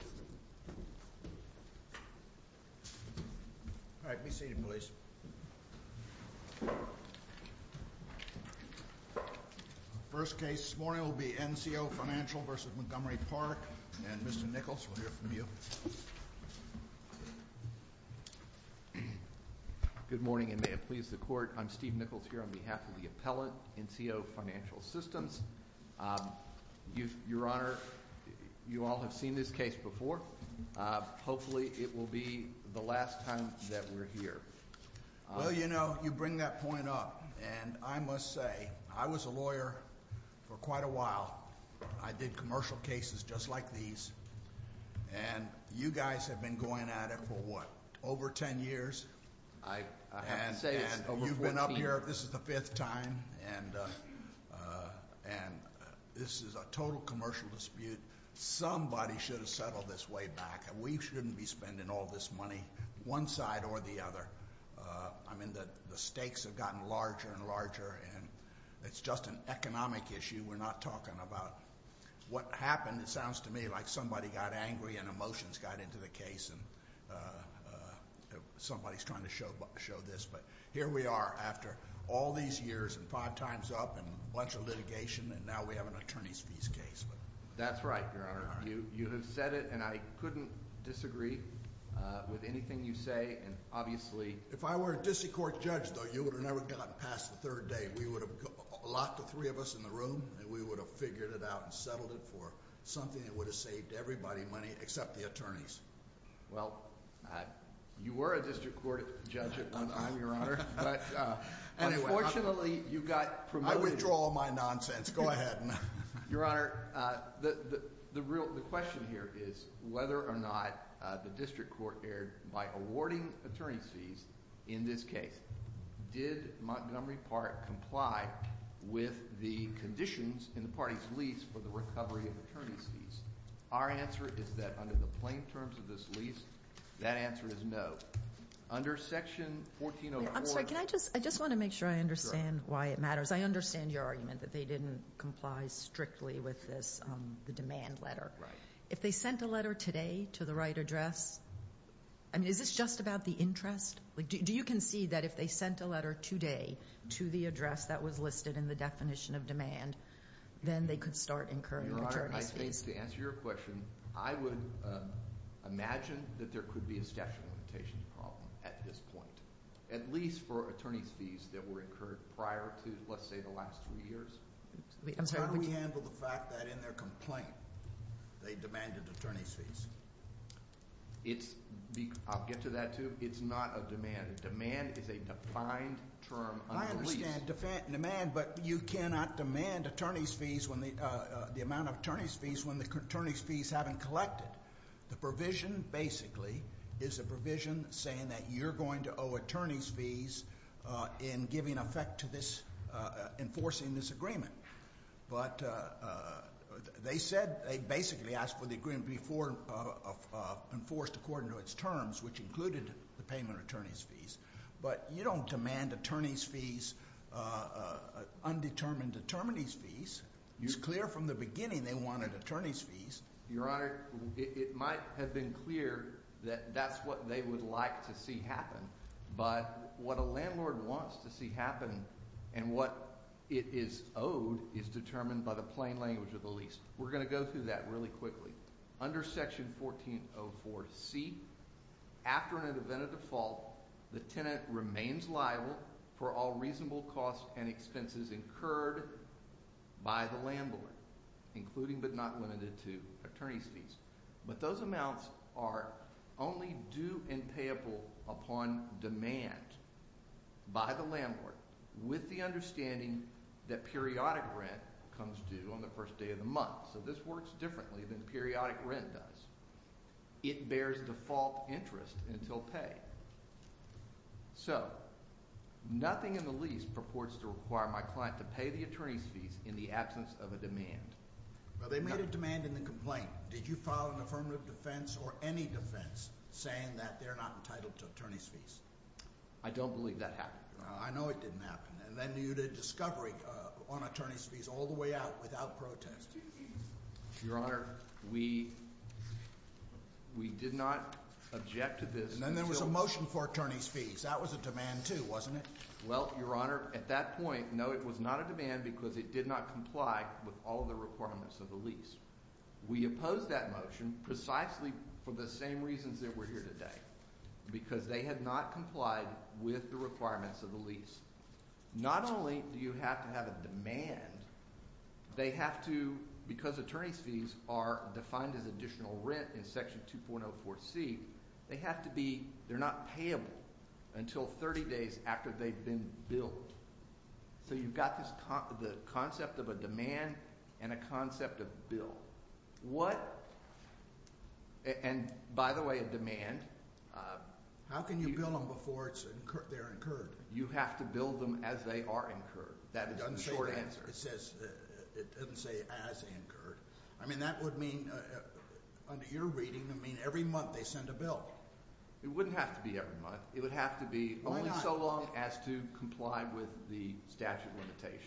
All right, be seated, please. First case this morning will be NCO Financial v. Montgomery Park. And, Mr. Nichols, we'll hear from you. Good morning, and may it please the Court. I'm Steve Nichols here on behalf of the appellate, NCO Financial Systems. Your Honor, you all have seen this case before. Hopefully, it will be the last time that we're here. Well, you know, you bring that point up. And I must say, I was a lawyer for quite a while. I did commercial cases just like these. And you guys have been going at it for, what, over 10 years? I have to say it's over 14. And you've been up here, this is the fifth time. And this is a total commercial dispute. Somebody should have settled this way back. We shouldn't be spending all this money, one side or the other. I mean, the stakes have gotten larger and larger. And it's just an economic issue. We're not talking about what happened. It sounds to me like somebody got angry and emotions got into the case. And somebody's trying to show this. But here we are after all these years and five times up and a bunch of litigation, and now we have an attorney's fees case. That's right, Your Honor. You have said it, and I couldn't disagree with anything you say. And obviously... If I were a district court judge, though, you would have never gotten past the third day. We would have locked the three of us in the room, and we would have figured it out and settled it for something that would have saved everybody money, except the attorneys. Well, you were a district court judge at one time, Your Honor. But unfortunately, you got promoted. I withdraw my nonsense. Go ahead. Your Honor, the question here is whether or not the district court erred by awarding attorney's fees in this case. Did Montgomery Park comply with the conditions in the party's lease for the recovery of attorney's fees? Our answer is that under the plain terms of this lease, that answer is no. Under Section 1404... I'm sorry, can I just... I just want to make sure I understand why it matters. I understand your argument that they didn't comply strictly with this demand letter. If they sent a letter today to the right address, I mean, is this just about the interest? Do you concede that if they sent a letter today to the address that was listed in the definition of demand, then they could start incurring attorney's fees? Your Honor, I think to answer your question, I would imagine that there could be a statute of limitations problem at this point, at least for attorney's fees that were incurred prior to, let's say, the last three years. How do we handle the fact that in their complaint they demanded attorney's fees? I'll get to that, too. It's not a demand. Demand is a defined term under the lease. I understand demand, but you cannot demand attorney's fees when the amount of attorney's fees when the attorney's fees haven't collected. The provision, basically, is a provision saying that you're going to owe attorney's fees in giving effect to this, enforcing this agreement. They said they basically asked for the agreement to be enforced according to its terms, which included the payment of attorney's fees. But you don't demand attorney's fees, undetermined attorney's fees. It's clear from the beginning they wanted attorney's fees. Your Honor, it might have been clear that that's what they would like to see happen, but what a landlord wants to see happen and what it is owed is determined by the plain language of the lease. We're going to go through that really quickly. Under Section 1404C, after an event of default, the tenant remains liable for all reasonable costs and expenses incurred by the landlord, including but not limited to attorney's fees. But those amounts are only due and payable upon demand by the landlord with the understanding that periodic rent comes due on the first day of the month. So this works differently than periodic rent does. It bears default interest until pay. So nothing in the lease purports to require my client to pay the attorney's fees in the absence of a demand. They made a demand in the complaint. Did you file an affirmative defense or any defense saying that they're not entitled to attorney's fees? I don't believe that happened. I know it didn't happen. And then you did discovery on attorney's fees all the way out without protest. Your Honor, we did not object to this. And then there was a motion for attorney's fees. That was a demand, too, wasn't it? Well, Your Honor, at that point, no, it was not a demand because it did not comply with all the requirements of the lease. We opposed that motion precisely for the same reasons that we're here today, because they had not complied with the requirements of the lease. Not only do you have to have a demand, they have to, because they have to be, they're not payable until 30 days after they've been billed. So you've got the concept of a demand and a concept of bill. What, and by the way, a demand. How can you bill them before they're incurred? You have to bill them as they are incurred. That is the short answer. It doesn't say as incurred. I mean, that would mean, under your reading, it would mean every month they send a bill. It wouldn't have to be every month. It would have to be only so long as to comply with the statute of limitations.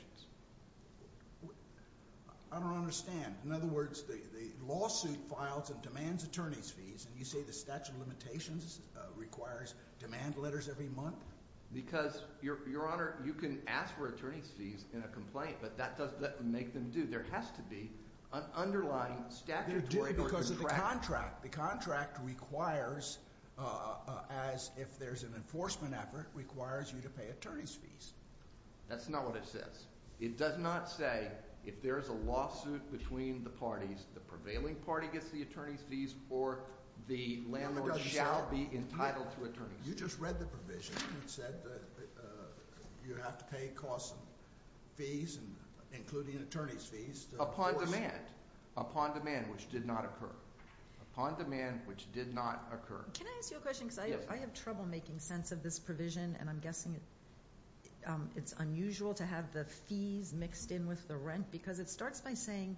I don't understand. In other words, the lawsuit files and demands attorney's fees, and you say the statute of limitations requires demand letters every month? Because, Your Honor, you can ask for attorney's fees in a complaint, but that doesn't make them due. There has to be an underlying statutory contract. They're due because of the contract. The contract requires, as if there's an enforcement effort, requires you to pay attorney's fees. That's not what it says. It does not say if there is a lawsuit between the parties, the prevailing party gets the attorney's fees, or the landlord shall be entitled to attorney's fees. You just read the provision. It said you have to pay costs and fees, including attorney's fees. Upon demand. Upon demand, which did not occur. Upon demand, which did not occur. Can I ask you a question? Because I have trouble making sense of this provision, and I'm guessing it's unusual to have the fees mixed in with the rent, because it starts by saying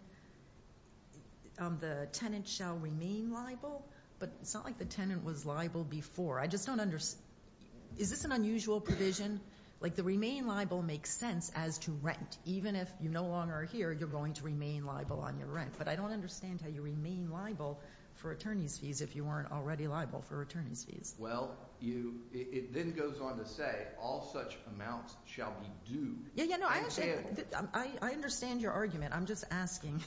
the tenant shall remain liable, but it's not like the tenant was liable before. Is this an unusual provision? The remain liable makes sense as to rent. Even if you no longer are here, you're going to remain liable on your rent. But I don't understand how you remain liable for attorney's fees if you weren't already liable for attorney's fees. Well, it then goes on to say all such amounts shall be due and handled. I understand your argument. I'm just asking.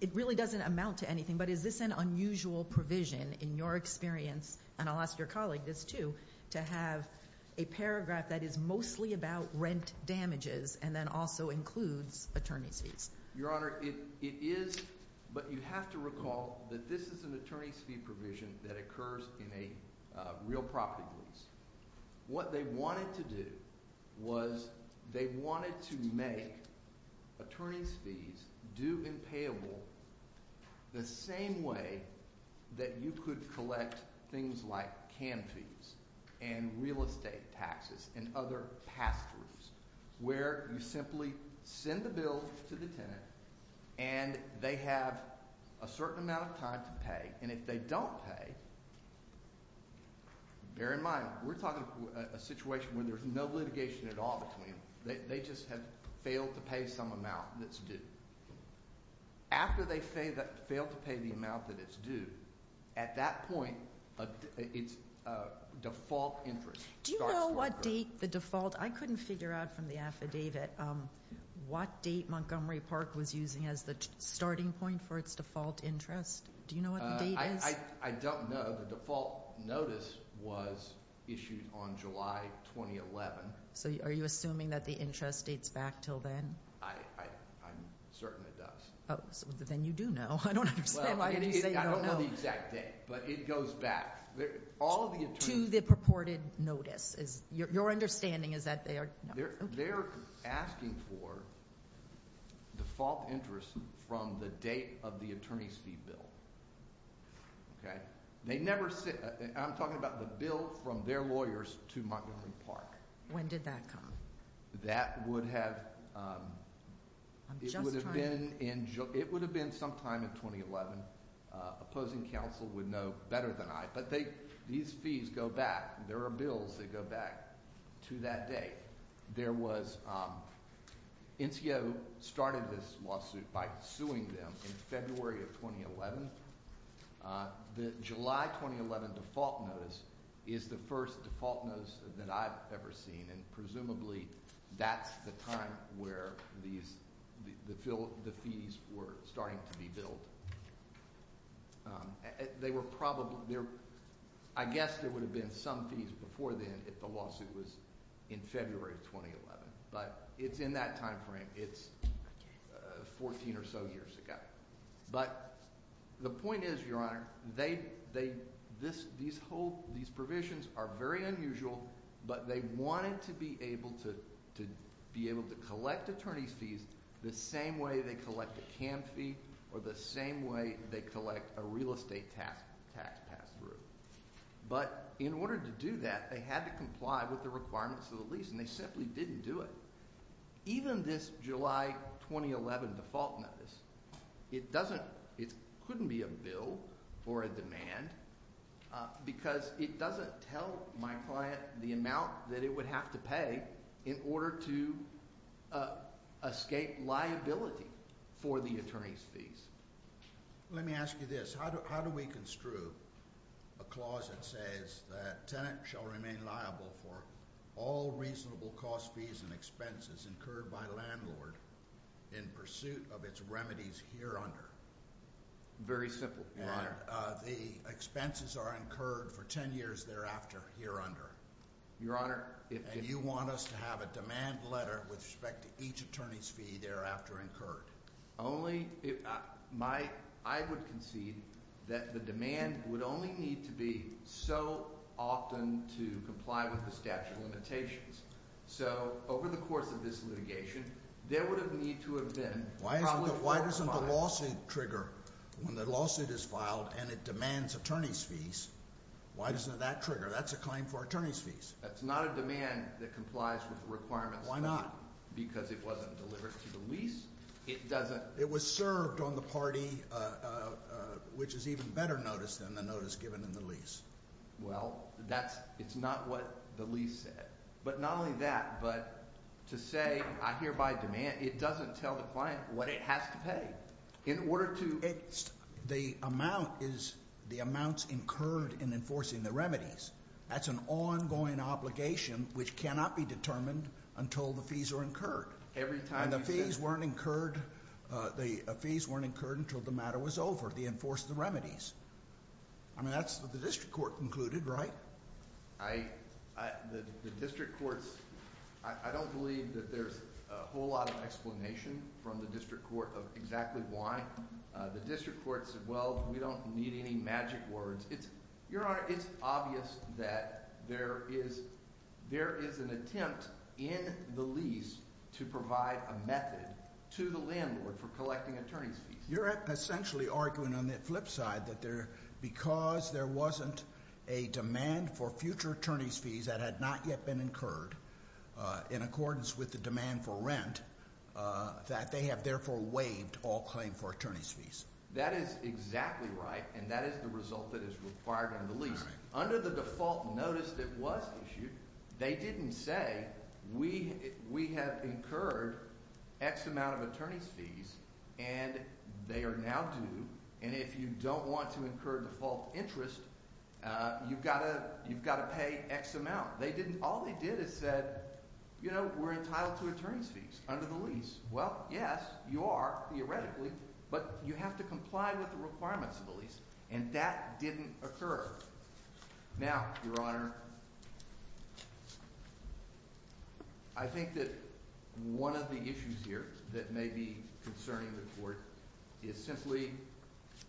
It really doesn't amount to anything, but is this an unusual provision in your experience, and I'll ask your colleague this too, to have a paragraph that is mostly about rent damages and then also includes attorney's fees? Your Honor, it is, but you have to recall that this is an attorney's fee provision that occurs in a real property lease. What they wanted to do was they wanted to make attorney's fees due and payable the same way that you could collect things like can fees and real estate taxes and other past fees, where you simply send the bill to the tenant and they have a certain amount of time to pay. And if they don't pay, bear in mind we're talking about a situation where there's no litigation at all between them. They just have failed to pay some amount that's due. After they fail to pay the amount that it's due, at that point it's default interest. Do you know what date the default, I couldn't figure out from the affidavit, what date Montgomery Park was using as the starting point for its default interest? Do you know what the date is? I don't know. The default notice was issued on July 2011. So are you assuming that the interest dates back until then? I'm certain it does. Then you do know. I don't understand why you're saying you don't know. I don't know the exact date, but it goes back. To the purported notice. Your understanding is that they are asking for default interest from the date of the attorney's fee bill. I'm talking about the bill from their lawyers to Montgomery Park. When did that come? That would have been sometime in 2011. Opposing counsel would know better than I. These fees go back. There are bills that go back to that date. NCO started this lawsuit by suing them in February of 2011. The July 2011 default notice is the first default notice that I've ever seen. Presumably that's the time where the fees were starting to be billed. I guess there would have been some fees before then if the lawsuit was in February 2011. But it's in that time frame. It's 14 or so years ago. But the point is, Your Honor, these provisions are very unusual. But they wanted to be able to collect attorney's fees the same way they collect a CAM fee or the same way they collect a real estate tax pass through. But in order to do that, they had to comply with the requirements of the lease. They simply didn't do it. Even this July 2011 default notice, it couldn't be a bill or a demand because it doesn't tell my client the amount that it would have to pay in order to escape liability for the attorney's fees. Let me ask you this. How do we construe a clause that says that tenant shall remain liable for all reasonable cost fees and expenses incurred by landlord in pursuit of its remedies here under? Very simple, Your Honor. The expenses are incurred for 10 years thereafter here under. And you want us to have a demand letter with respect to each attorney's fee thereafter incurred? I would concede that the demand would only need to be so often to comply with the statute of limitations. So over the course of this litigation, there would have need to have been. Why doesn't the lawsuit trigger when the lawsuit is filed and it demands attorney's fees? Why doesn't that trigger? That's a claim for attorney's fees. That's not a demand that complies with requirements. Why not? Because it wasn't delivered to the lease. It doesn't. It was served on the party, which is even better notice than the notice given in the lease. Well, that's it's not what the lease said. But not only that, but to say I hereby demand it doesn't tell the client what it has to pay in order to. It's the amount is the amounts incurred in enforcing the remedies. That's an ongoing obligation which cannot be determined until the fees are incurred. Every time the fees weren't incurred, the fees weren't incurred until the matter was over. The enforced the remedies. I mean, that's what the district court concluded, right? I the district courts. I don't believe that there's a whole lot of explanation from the district court of exactly why the district court said, well, we don't need any magic words. It's your honor. It's obvious that there is there is an attempt in the lease to provide a method to the landlord for collecting attorney's fees. You're essentially arguing on the flip side that there because there wasn't a demand for future attorney's fees that had not yet been incurred in accordance with the demand for rent that they have therefore waived all claim for attorney's fees. That is exactly right. And that is the result that is required in the lease under the default notice that was issued. They didn't say we we have incurred X amount of attorney's fees and they are now due. And if you don't want to incur default interest, you've got to you've got to pay X amount. They didn't. All they did is said, you know, we're entitled to attorney's fees under the lease. Well, yes, you are theoretically, but you have to comply with the requirements of the lease. And that didn't occur. Now, your honor, I think that one of the issues here that may be concerning the court is simply,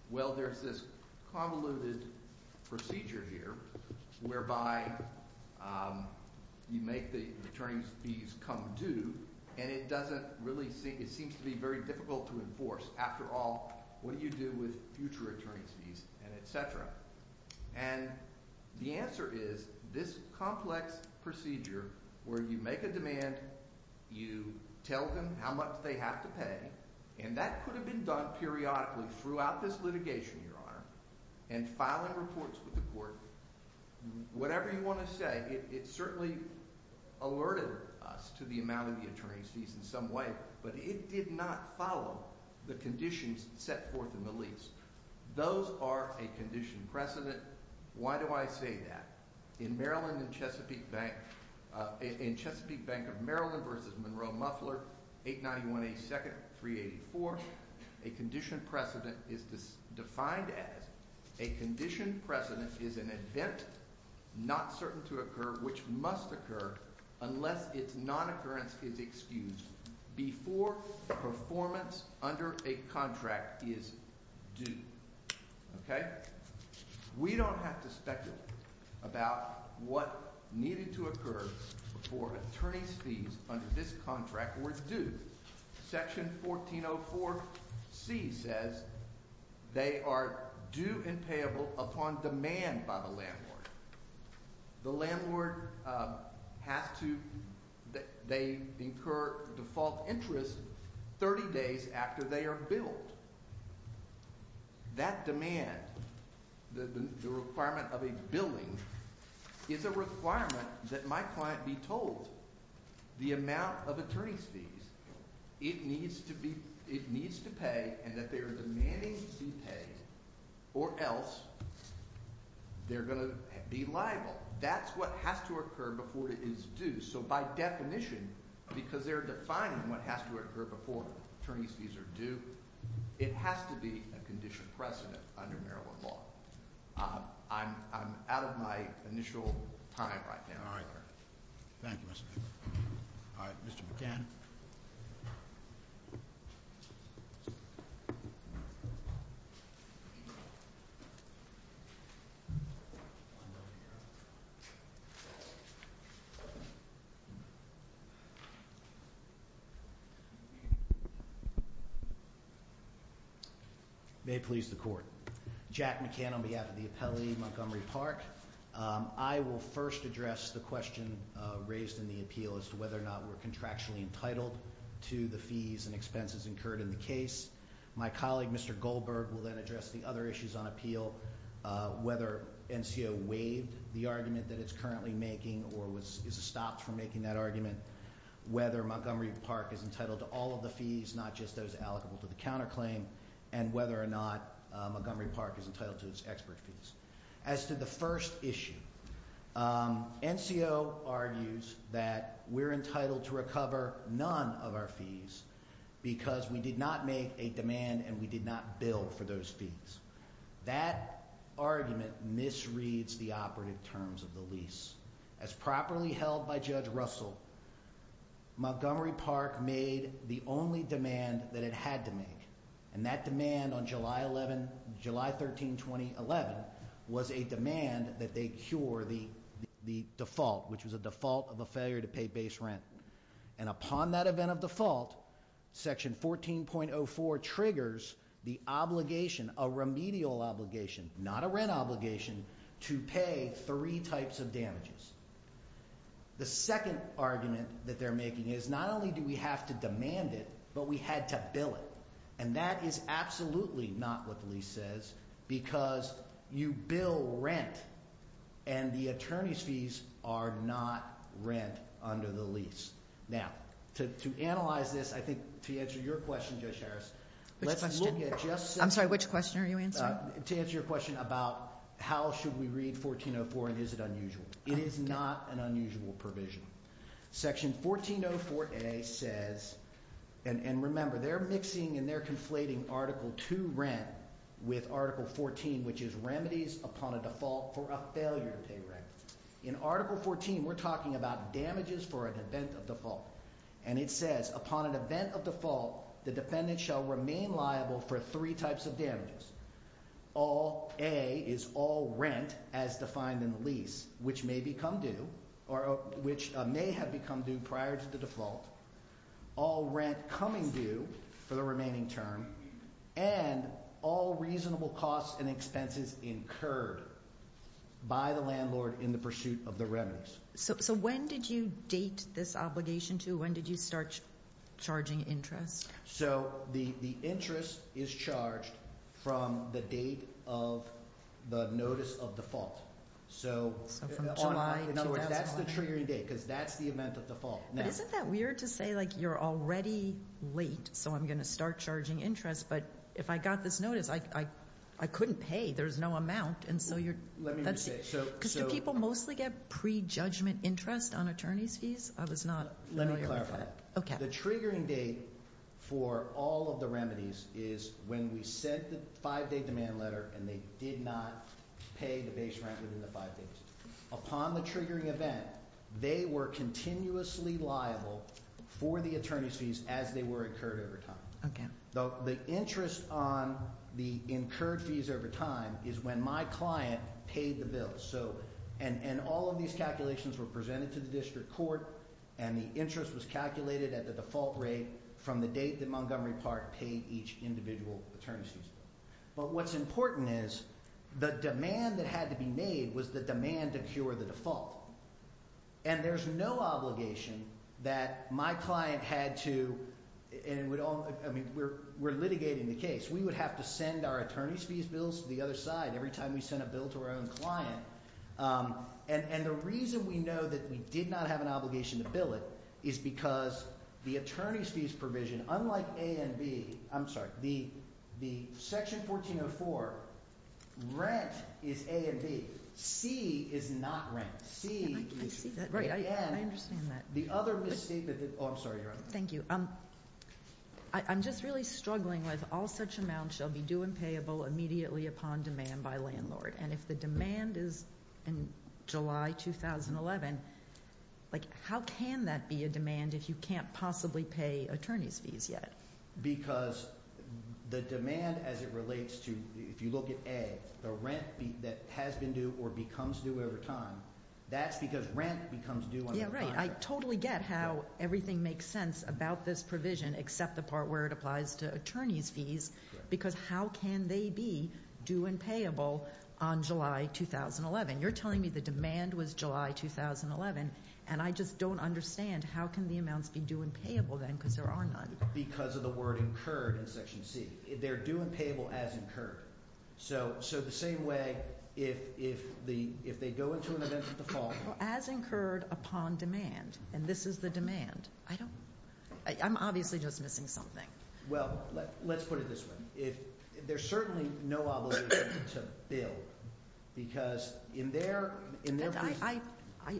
well, there's this convoluted procedure here whereby you make the attorney's fees come due and it doesn't really seem it seems to be very difficult to enforce. After all, what do you do with future attorney's fees and et cetera? And the answer is this complex procedure where you make a demand, you tell them how much they have to pay and that could have been done periodically throughout this litigation, your honor, and filing reports with the court. Whatever you want to say, it certainly alerted us to the amount of the attorney's fees in some way, but it did not follow the conditions set forth in the lease. Those are a condition precedent. Why do I say that? In Maryland and Chesapeake Bank of Maryland v. Monroe Muffler, 891A2nd 384, a condition precedent is defined as a condition precedent is an event not certain to occur which must occur unless its non-occurrence is excused before performance under a contract is due. We don't have to speculate about what needed to occur before attorney's fees under this contract were due. Section 1404C says they are due and payable upon demand by the landlord. The landlord has to, they incur default interest 30 days after they are billed. That demand, the requirement of a billing, is a requirement that my client be told the amount of attorney's fees it needs to pay and that they are demanding to be paid or else they're going to be liable. That's what has to occur before it is due. By definition, because they're defining what has to occur before attorney's fees are due, it has to be a condition precedent under Maryland law. I'm out of my initial time right now. Thank you, Mr. Baker. Mr. McCann. May it please the court. Jack McCann on behalf of the appellee, Montgomery Park. I will first address the question raised in the appeal as to whether or not we're contractually entitled to the fees and expenses incurred in the case. My colleague, Mr. Goldberg, will then address the other issues on appeal, whether NCO waived the argument that it's currently making or is stopped from making that argument, whether Montgomery Park is entitled to all of the fees, not just those allocable to the counterclaim, and whether or not Montgomery Park is entitled to its expert fees. As to the first issue, NCO argues that we're entitled to recover none of our fees because we did not make a demand and we did not bill for those fees. That argument misreads the operative terms of the lease. As properly held by Judge Russell, Montgomery Park made the only demand that it had to make, and that demand on July 13, 2011 was a demand that they cure the default, which was a default of a failure to pay base rent. And upon that event of default, Section 14.04 triggers the obligation, a remedial obligation, not a rent obligation, to pay three types of damages. The second argument that they're making is not only do we have to demand it, but we had to bill it. And that is absolutely not what the lease says because you bill rent and the attorney's fees are not rent under the lease. Now, to analyze this, I think to answer your question, Judge Harris, let's look at just... I'm sorry, which question are you answering? To answer your question about how should we read 14.04 and is it unusual. It is not an unusual provision. Section 14.04a says, and remember they're mixing and they're conflating Article 2 rent with Article 14, which is remedies upon a default for a failure to pay rent. In Article 14, we're talking about damages for an event of default. And it says, upon an event of default, the defendant shall remain liable for three types of damages. All rent, as defined in the lease, which may become due, or due for the remaining term, and all reasonable costs and expenses incurred by the landlord in the pursuit of the remedies. So when did you date this obligation to? When did you start charging interest? So the interest is charged from the date of the notice of default. So from July 2001. In other words, that's the triggering date, because that's the event of default. But isn't that weird to say, like, you're already late, so I'm going to start charging interest, but if I got this notice, I couldn't pay. There's no amount, and so you're... Let me rephrase. Because do people mostly get pre-judgment interest on attorney's fees? I was not familiar with that. Let me clarify. The triggering date for all of the remedies is when we sent the five-day demand letter and they did not pay the base rent within the five days. Upon the triggering event, they were continuously liable for the attorney's fees as they were incurred over time. The interest on the incurred fees over time is when my client paid the bill. And all of these calculations were presented to the district court, and the interest was calculated at the default rate from the date that Montgomery Park paid each individual attorney's fees. But what's important is the demand that had to be made was the demand to cure the default. And there's no obligation that my client had to... We're litigating the case. We would have to send our attorney's fees bills to the other side every time we sent a bill to our own client. And the reason we know that we did not have an obligation to bill it is because the attorney's fees provision, unlike A and B... I'm sorry. The Section 1404, rent is A and B. C is not rent. C is... I understand that. Oh, I'm sorry, Your Honor. Thank you. I'm just really struggling with all such amounts shall be due and payable immediately upon demand by landlord. And if the demand is in July 2011, how can that be a demand if you can't possibly pay attorney's fees yet? Because the demand as it relates to... If you look at A, the rent that has been due or becomes due over time, that's because rent becomes due under the contract. Yeah, right. I totally get how everything makes sense about this provision except the part where it applies to attorney's fees because how can they be due and payable on July 2011? You're telling me the demand was July 2011 and I just don't understand how can the amounts be due and payable then because there are none? Because of the word incurred in Section C. They're due and payable as incurred. So the same way if they go into an event of default... As incurred upon demand. And this is the demand. I'm obviously just missing something. Well, let's put it this way. There's certainly no obligation to bill because in their...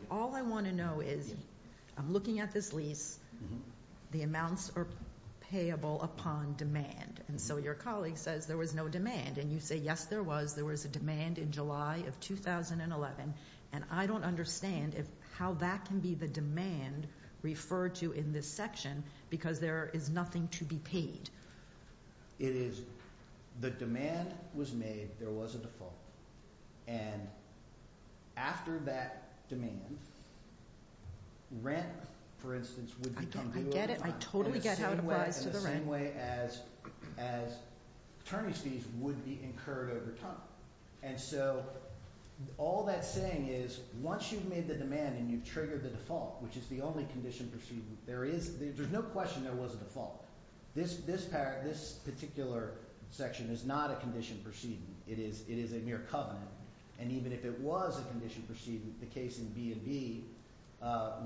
All I want to know is, I'm looking at this lease, the amounts are payable upon demand. And so your colleague says there was no demand. And you say, yes there was. There was a demand in July of 2011 and I don't understand how that can be the demand referred to in this section because there is nothing to be paid. The demand was made. There was a default. And after that demand, rent, for instance, would become due over time. I get it. I totally get how it applies to the rent. In the same way as attorney's fees would be incurred over time. And so all that's saying is once you've made the demand and you've triggered the default, which is the only condition proceeding, there's no question there was a default. This particular section is not a condition proceeding. It is a mere covenant. And even if it was a condition proceeding, the case in B&B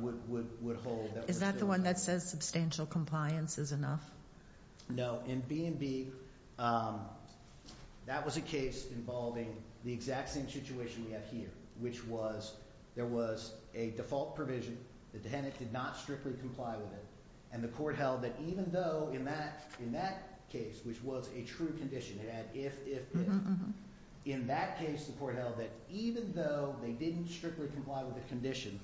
would hold... Is that the one that says financial compliance is enough? No. In B&B, that was a case involving the exact same situation we have here, which was there was a default provision. The tenant did not strictly comply with it. And the court held that even though in that case, which was a true condition, it had if, if, if. In that case the court held that even though they didn't strictly comply with the condition,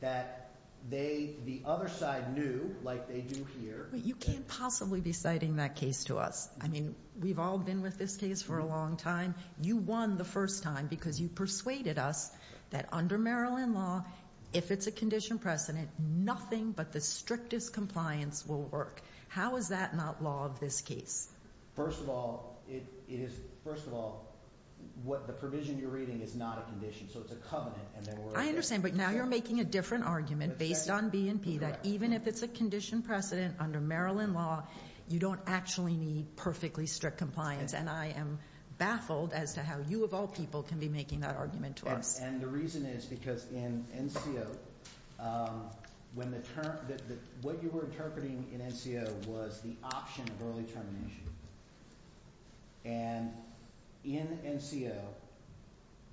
that they, the other side knew, like they do here... You can't possibly be citing that case to us. I mean, we've all been with this case for a long time. You won the first time because you persuaded us that under Maryland law, if it's a condition precedent, nothing but the strictest compliance will work. How is that not law of this case? First of all, it is, I understand, but now you're making a different argument based on B&P that even if it's a condition precedent under Maryland law, you don't actually need perfectly strict compliance. And I am baffled as to how you of all people can be making that argument to us. And the reason is because in NCO, when the term, what you were interpreting in NCO was the option of early termination. And in NCO,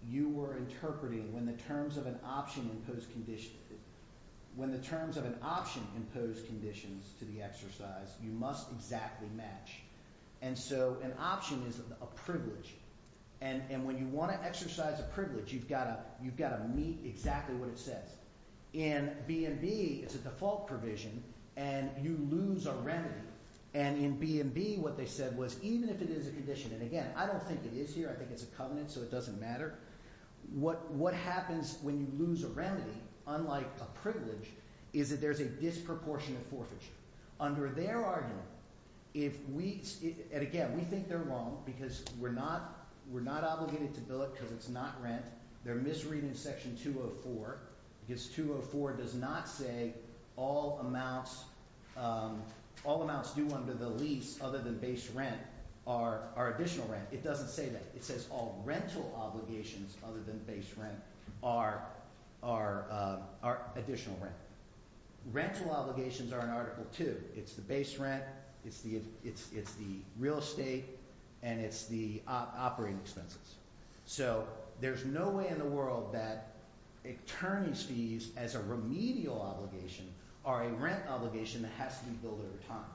you were interpreting when the terms of an option imposed condition, when the terms of an option imposed conditions to the exercise, you must exactly match. And so an option is a privilege. And when you want to exercise a privilege, you've got to, you've got to meet exactly what it says. In B&B, it's a default provision and you lose a remedy. And in B&B, what they said was, even if it is a condition, and again, I don't think it is here. I think it's a covenant, so it doesn't matter. What happens when you lose a remedy, unlike a privilege, is that there's a disproportionate forfeiture. Under their argument, if we, and again, we think they're wrong because we're not, we're not obligated to bill it because it's not rent. They're misreading section 204 because 204 does not say all amounts, all amounts due under the lease other than base rent are additional rent. It doesn't say that. It says all rental obligations other than base rent are additional rent. Rental obligations are in Article 2. It's the base rent, it's the real estate, and it's the operating expenses. So there's no way in the world that attorney's fees as a remedial obligation are a rent obligation that has to be billed at a time.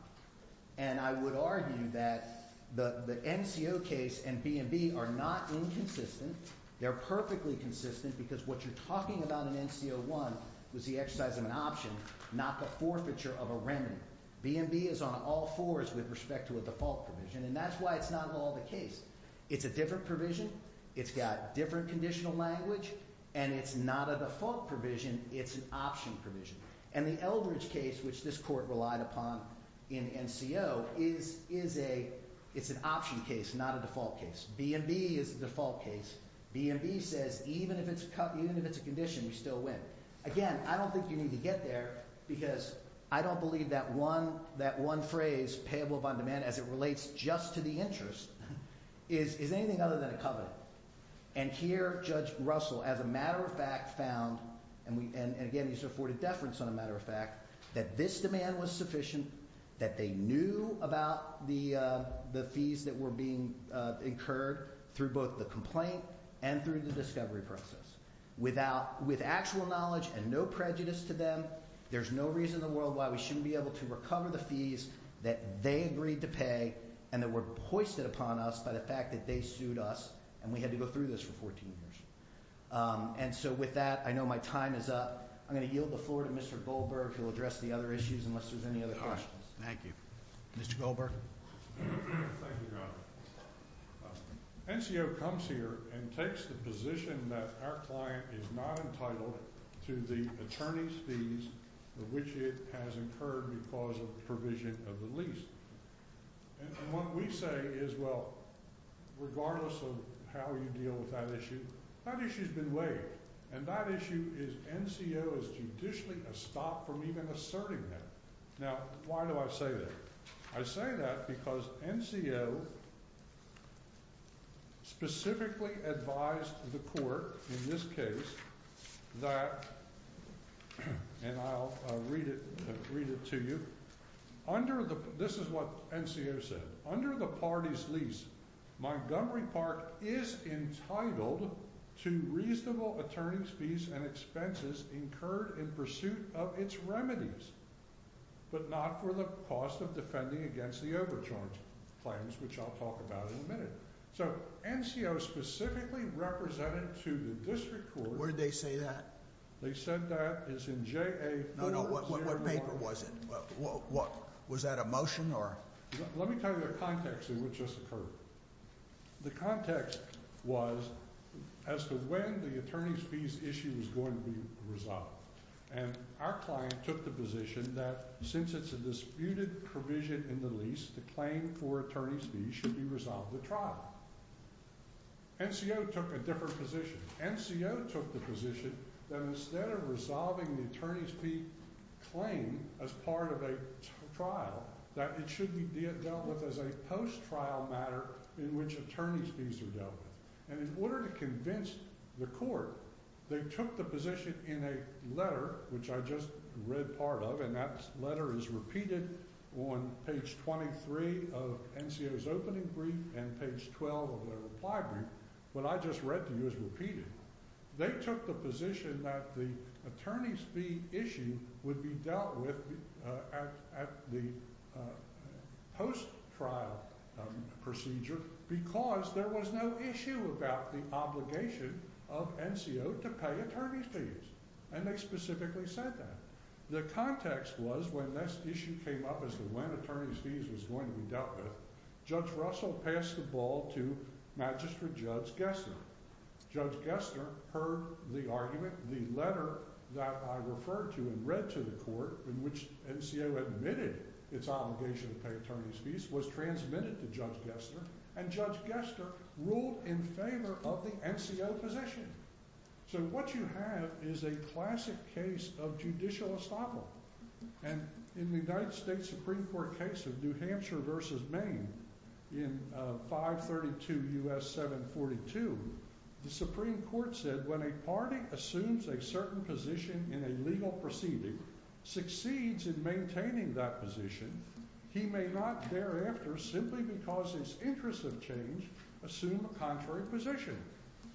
And I would argue that the NCO case and B&B are not inconsistent. They're perfectly consistent because what you're talking about in NCO1 was the exercise of an option, not the forfeiture of a remedy. B&B is on all fours with respect to a default provision, and that's why it's not all the case. It's a different provision, it's got different conditional language, and it's not a default provision, it's an option provision. And the Eldridge case, which this court relied upon in NCO, is a, it's an option case, not a default case. B&B is the default case. B&B says even if it's a condition, we still win. Again, I don't think you need to get there, because I don't believe that one phrase, payable upon demand, as it relates just to the interest, is anything other than a covenant. And here, Judge Russell, as a matter of fact, found, and again, he's afforded deference on a matter of fact, that this demand was sufficient, that they knew about the fees that were being incurred through both the complaint and through the discovery process. With actual knowledge and no prejudice to them, there's no reason in the world why we shouldn't be able to recover the fees that they agreed to pay, and that were hoisted upon us by the fact that they sued us, and we had to go through this for 14 years. And so with that, I know my time is up. I'm going to yield the floor to Mr. Goldberg, who will address the other issues, unless there's any other questions. Thank you. Mr. Goldberg. Thank you, Your Honor. NCO comes here and takes the position that our client is not entitled to the attorney's fees for which it has incurred because of the provision of the lease. And what we say is, well, regardless of how you deal with that issue, that issue's been waived. And that issue is NCO is judicially stopped from even asserting that. Now, why do I say that? I say that because NCO specifically advised the court, in this case, that and I'll read it to you. This is what NCO said. Under the party's lease, Montgomery Park is entitled to reasonable attorney's fees and expenses incurred in pursuit of its remedies, but not for the cost of defending against the overcharge claims, which I'll talk about in a minute. So, NCO specifically represented to the district court. Where did they say that? They said that is in JA-4-0-1. No, no, what paper was it? Was that a motion? Let me tell you the context in which this occurred. The context was as to when the attorney's fees issue was going to be resolved. And our client took the position that since it's a disputed provision in the lease, the claim for attorney's fees should be resolved at trial. NCO took a different position. NCO took the position that instead of resolving the attorney's fee claim as part of a trial, that it should be dealt with as a post-trial matter in which attorney's fees are dealt with. And in order to convince the court, they took the position in a letter, which I just read part of, and that letter is repeated on page 23 of NCO's opening brief and page 12 of their reply brief. What I just read to you is repeated. They took the position that the attorney's fee issue would be dealt with at the post-trial procedure because there was no issue about the obligation of NCO to pay attorney's fees. And they specifically said that. The context was when this issue came up as to when attorney's fees was going to be dealt with, Judge Russell passed the ball to Magistrate Judge Gessner. Judge Gessner heard the argument. The letter that I referred to and read to the court in which NCO admitted its obligation to pay attorney's fees was transmitted to Judge Gessner, and Judge Gessner ruled in favor of the NCO position. So what you have is a classic case of judicial estoppel. And in the United States Supreme Court case of New Hampshire v. Maine in 532 U.S. 742, the Supreme Court said when a party assumes a certain position in a legal proceeding, succeeds in maintaining that position, he may not thereafter, simply because his interests have changed, assume a contrary position,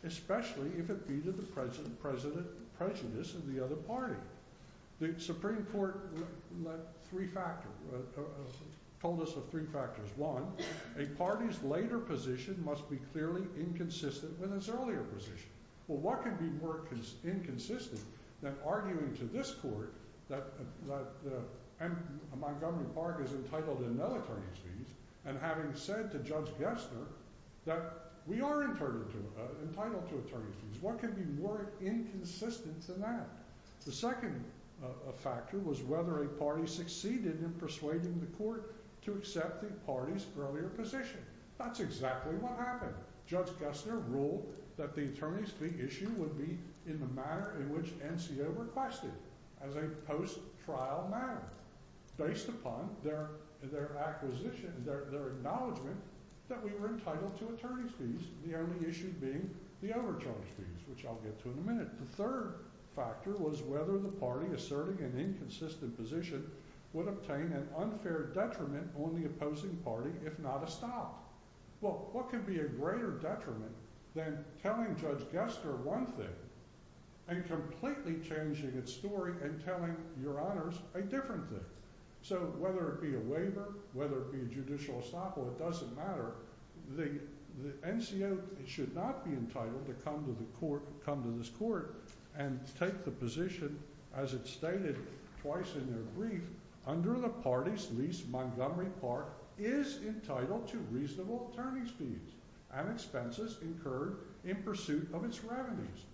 especially if it be to the presentness of the other party. The Supreme Court told us of three factors. One, a party's later position must be clearly inconsistent with its earlier position. Well, what can be more inconsistent than arguing to this court that Montgomery Park is entitled in no attorney's fees, and having said to Judge Gessner that we are entitled to attorney's fees? What can be more inconsistent than that? The second factor was whether a party succeeded in persuading the court to accept the party's earlier position. That's exactly what happened. Judge Gessner ruled that the attorney's fee issue would be in the manner in which NCO requested, as a post-trial matter, based upon their acknowledgment that we were entitled to attorney's fees, the only issue being the overcharge fees, which I'll get to in a minute. The third factor was whether the party asserting an inconsistent position would obtain an unfair detriment on the opposing party, if not a stop. Well, what could be a greater detriment than telling Judge Gessner one thing and completely changing its story and telling your honors a different thing? So, whether it be a waiver, whether it be a judicial estoppel, it doesn't matter. The NCO should not be entitled to come to this court and take the position, as it's stated twice in their brief, under the party's lease, Montgomery Park is entitled to reasonable attorney's fees and expenses incurred in pursuit of its revenues,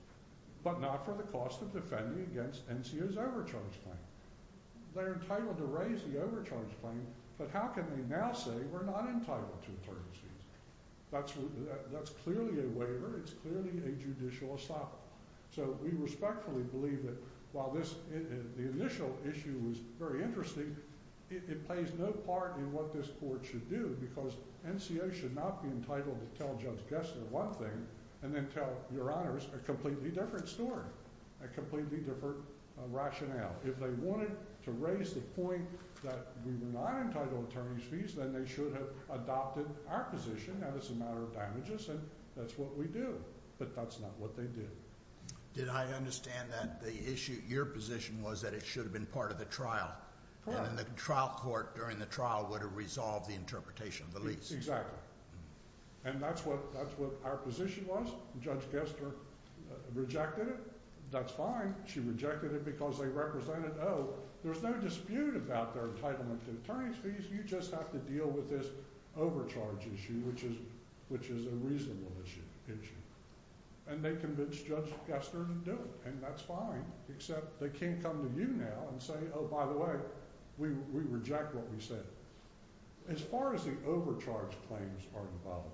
but not for the cost of defending against NCO's overcharge claim. They're entitled to raise the overcharge claim, but how can they now say we're not entitled to attorney's fees? That's clearly a waiver, it's clearly a judicial estoppel. So, we respectfully believe that while this, the initial issue was very interesting, it plays no part in what this court should do, because NCO should not be entitled to tell Judge Gessner one thing and then tell your honors a completely different story, a completely different rationale. If they wanted to raise the point that we were not entitled to attorney's fees, then they should have adopted our position, that it's a matter of damages, and that's what we do. But that's not what they did. Did I understand that the issue, your position, was that it should have been part of the trial, and then the trial court during the trial would have resolved the interpretation of the lease. Exactly. And that's what our position was. Judge Gessner rejected it. That's fine. She rejected it because they represented, oh, there's no dispute about their entitlement to attorney's fees, you just have to deal with this overcharge issue, which is a reasonable issue. And they convinced Judge Gessner to do it, and that's fine, except they can't come to you now and say, oh, by the way, we reject what we said. As far as the overcharge claims are involved,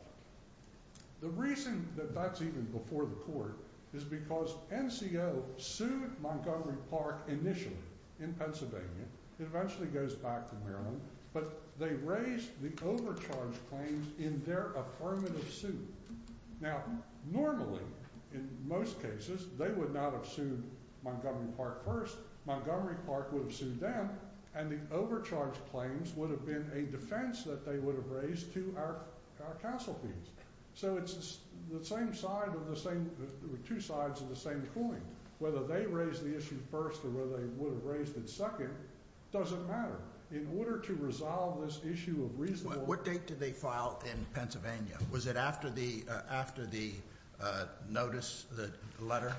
the reason that that's even before the court is because NCO sued Montgomery Park initially in Pennsylvania, it eventually goes back to Maryland, but they raised the overcharge claims in their affirmative suit. Now, normally in most cases, they would not have sued Montgomery Park first, Montgomery Park would have sued them, and the overcharge claims would have been a defense that they would have raised to our counsel fees. So it's the same side of the same, two sides of the same coin. Whether they raised the issue first or whether they would have raised it second doesn't matter. In order to resolve this issue of reasonable What date did they file in Pennsylvania? Was it after the notice, the letter?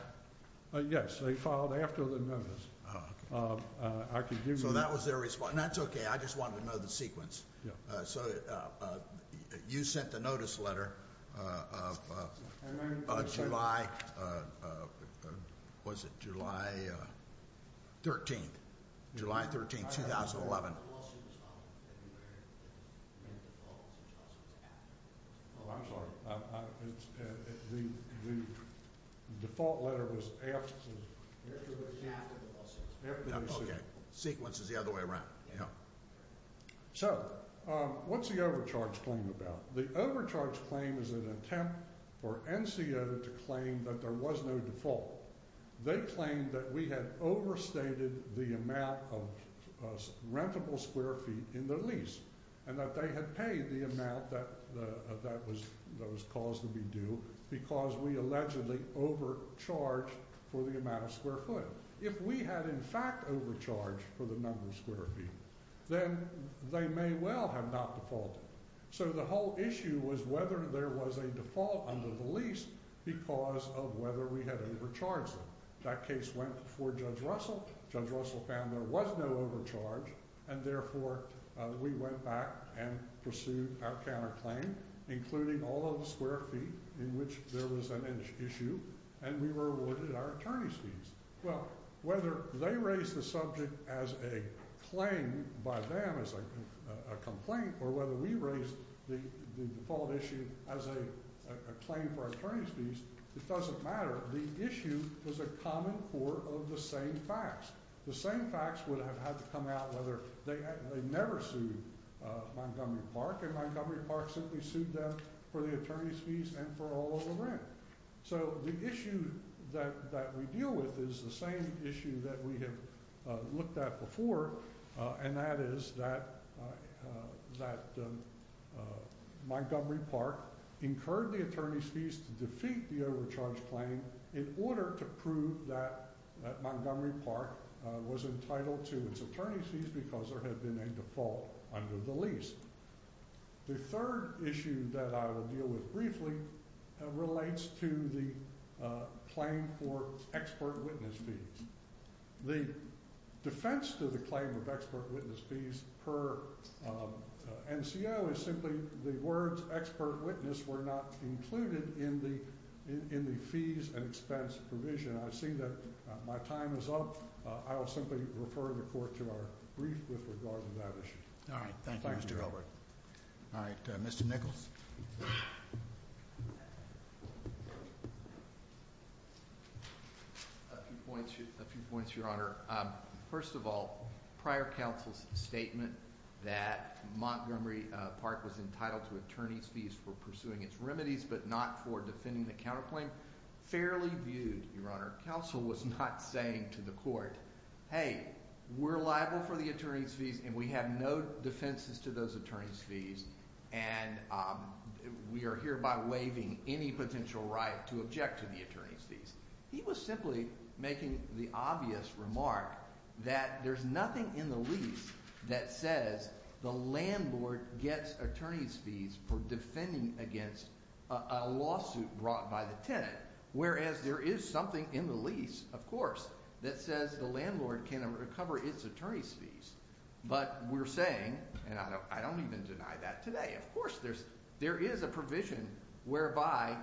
Yes, they filed after the notice. So that was their response. And that's okay, I just wanted to know the sequence. So you sent the notice letter of July, was it July 13th, July 13th, 2011. Oh, I'm sorry. The default letter was after the lawsuit. Sequence is the other way around. So, what's the overcharge claim about? The overcharge claim is an attempt for NCO to claim that there was no default. They claimed that we had overstated the amount of rentable square feet in their lease, and that they had paid the amount that was caused to be due because we allegedly overcharged for the amount of square foot. If we had in fact overcharged for the number of square feet, then they may well have not defaulted. So the whole issue was whether there was a default under the lease because of whether we had overcharged them. That case went before Judge Russell. Judge Russell found there was no overcharge, and therefore we went back and pursued our counterclaim, including all of the square feet in which there was an issue, and we were awarded our attorney's fees. Well, whether they raised the subject as a claim by them as a complaint, or whether we raised the default issue as a claim for our attorney's fees, it doesn't matter. The issue was a common core of the same facts. The same facts would have had to come out whether they never sued Montgomery Park, and Montgomery Park simply sued them for the attorney's fees and for all of the rent. So the issue that we deal with is the same issue that we have looked at before, and that is that Montgomery Park incurred the attorney's fees to defeat the overcharged claim in order to prove that Montgomery Park was entitled to its attorney's fees because there had been a default under the lease. The third issue that I will deal with briefly relates to the claim for expert witness fees. The defense to the claim of expert witness fees per NCO is simply the words expert witness were not included in the fees and expense provision. I've seen that my time is up. I will simply refer the court to our brief with regard to that issue. Mr. Nichols. A few points, Your Honor. First of all, prior counsel's statement that Montgomery Park was entitled to attorney's fees for pursuing its remedies but not for defending the counterclaim, fairly viewed, Your Honor. Counsel was not saying to the court, hey, we're liable for the attorney's fees and we have no defenses to those attorney's fees, and we are hereby waiving any potential right to object to the attorney's fees. He was simply making the obvious remark that there's nothing in the lease that says the landlord gets attorney's fees for defending against a lawsuit brought by the tenant, whereas there is something in the lease, of course, that says the landlord can recover its attorney's fees. But we're saying, and I don't even deny that today, of course there is a provision whereby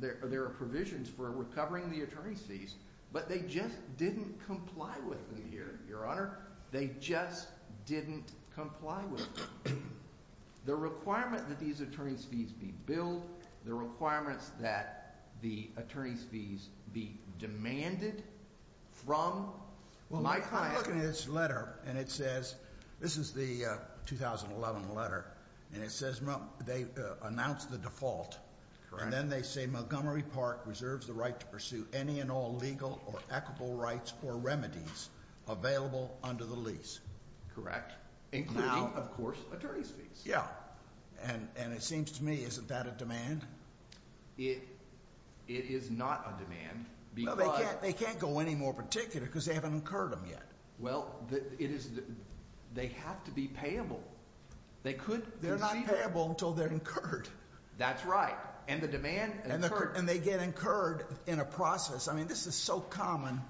there are provisions for recovering the attorney's fees, but they just didn't comply with them here, Your Honor. They just didn't comply with them. The requirement that these attorney's fees be billed, the requirements that the attorney's fees be demanded from my client... And it says they announce the default, and then they say Montgomery Park reserves the right to pursue any and all legal or equitable rights or remedies available under the lease. Correct. Including, of course, attorney's fees. Yeah. And it seems to me, isn't that a demand? It is not a demand. They can't go any more particular because they haven't incurred them yet. Well, they have to be payable. They're not payable until they're incurred. That's right. And the demand... And they get incurred in a process. I mean, this is so common,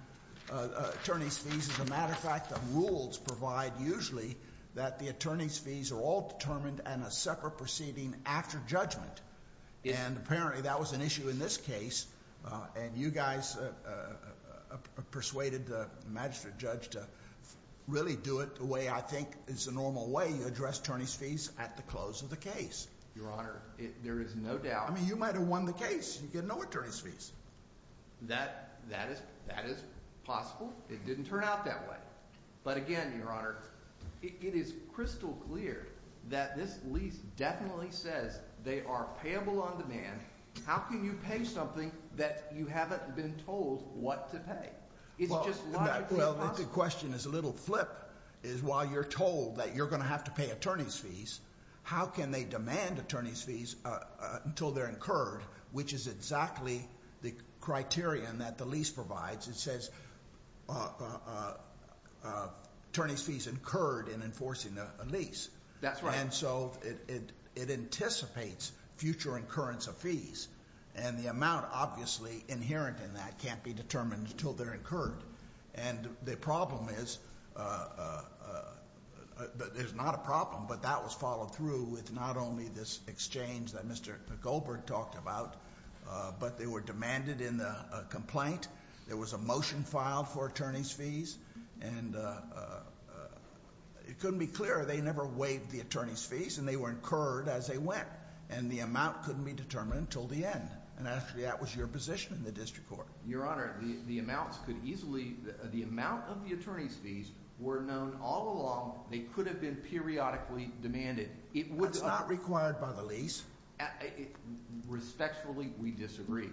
attorney's fees. As a matter of fact, the rules provide usually that the attorney's fees are all determined in a separate proceeding after judgment. And apparently that was an issue in this case. And you guys persuaded the magistrate judge to really do it the way I think is the normal way. You address attorney's fees at the close of the case. Your Honor, there is no doubt... I mean, you might have won the case. You get no attorney's fees. That is possible. It didn't turn out that way. But again, Your Honor, it is crystal clear that this lease definitely says they are payable on demand. How can you pay something that you haven't been told what to pay? Is it just logically possible? Well, the question is a little flip, is while you're told that you're going to have to pay attorney's fees, how can they demand attorney's fees until they're incurred, which is exactly the criterion that the lease provides. It says attorney's fees incurred in enforcing a lease. That's right. And so it anticipates future incurrence of fees. And the amount obviously inherent in that can't be determined until they're incurred. And the problem is... There's not a problem, but that was followed through with not only this exchange that Mr. Goldberg talked about, but they were demanded in the complaint. There was a motion filed for attorney's fees. And it couldn't be clearer. They never waived the attorney's fees, and they were incurred as they went. And the amount couldn't be determined until the end. And actually, that was your position in the district court. Your Honor, the amounts could easily... The amount of the attorney's fees were known all along. They could have been periodically demanded. That's not required by the lease. Respectfully, we disagree.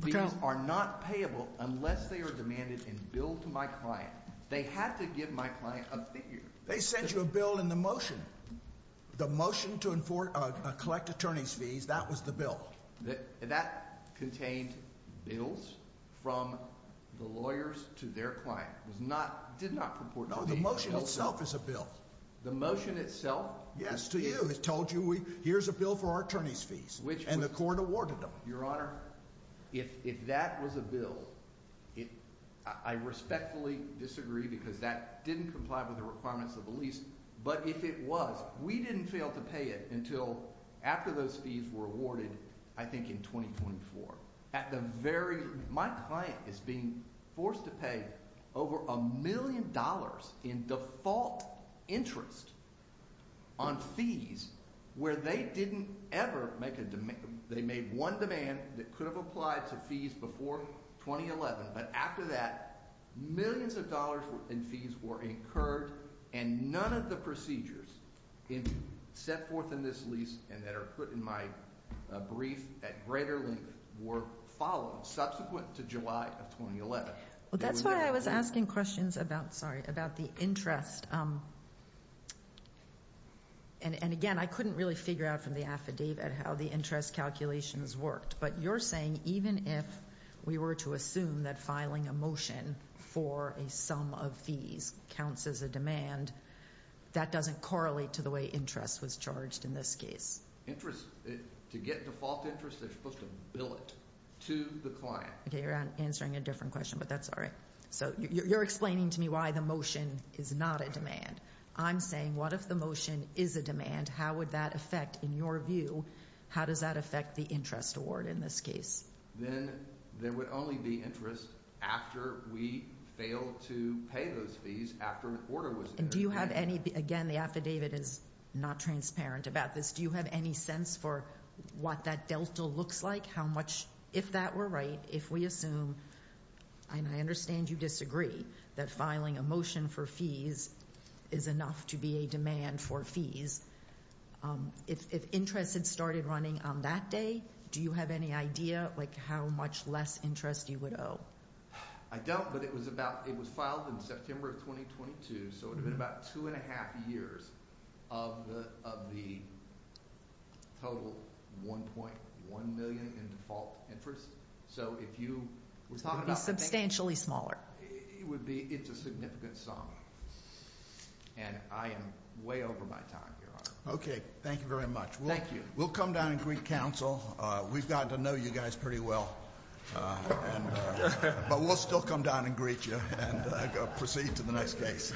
These are not payable unless they are demanded in bill to my client. They had to give my client a figure. They sent you a bill in the motion. The motion to collect attorney's fees, that was the bill. That contained bills from the lawyers to their self. Yes, to you. It told you, here's a bill for our attorney's fees. And the court awarded them. Your Honor, if that was a bill, I respectfully disagree because that didn't comply with the requirements of the lease. But if it was, we didn't fail to pay it until after those fees were awarded, I think in 2024. At the very... My client is being forced to pay over a million dollars in default interest on fees where they didn't ever make a demand. They made one demand that could have applied to fees before 2011. But after that, millions of dollars in fees were incurred and none of the procedures set forth in this lease and that are put in my brief at greater length were followed subsequent to July of 2011. That's why I was asking questions about the interest. And again, I couldn't really figure out from the affidavit how the interest calculations worked. But you're saying even if we were to assume that filing a motion for a sum of fees counts as a demand, that doesn't correlate to the way interest was charged in this case? Interest... To get default interest, they're supposed to bill it to the client. Okay, you're answering a different question, but that's all right. So you're explaining to me why the motion is not a demand. I'm saying what if the motion is a demand, how would that affect, in your view, how does that affect the interest award in this case? Then there would only be interest after we failed to pay those fees after an order was... And do you have any... Again, the affidavit is not transparent about this. Do you have any sense for what that delta looks like? How much... If that were right, if we assume, and I understand you disagree, that filing a motion for fees is enough to be a demand for fees, if interest had started running on that day, do you have any idea how much less interest you would owe? I don't, but it was filed in September of 2022, so it would have been about two and a half years of the total 1.1 million in default interest. So if you were talking about... It would be substantially smaller. It would be... It's a significant sum. And I am way over my time, Your Honor. Okay. Thank you very much. We'll come down and greet counsel. We've gotten to know you guys pretty well, but we'll still come down and greet you and proceed to the next case.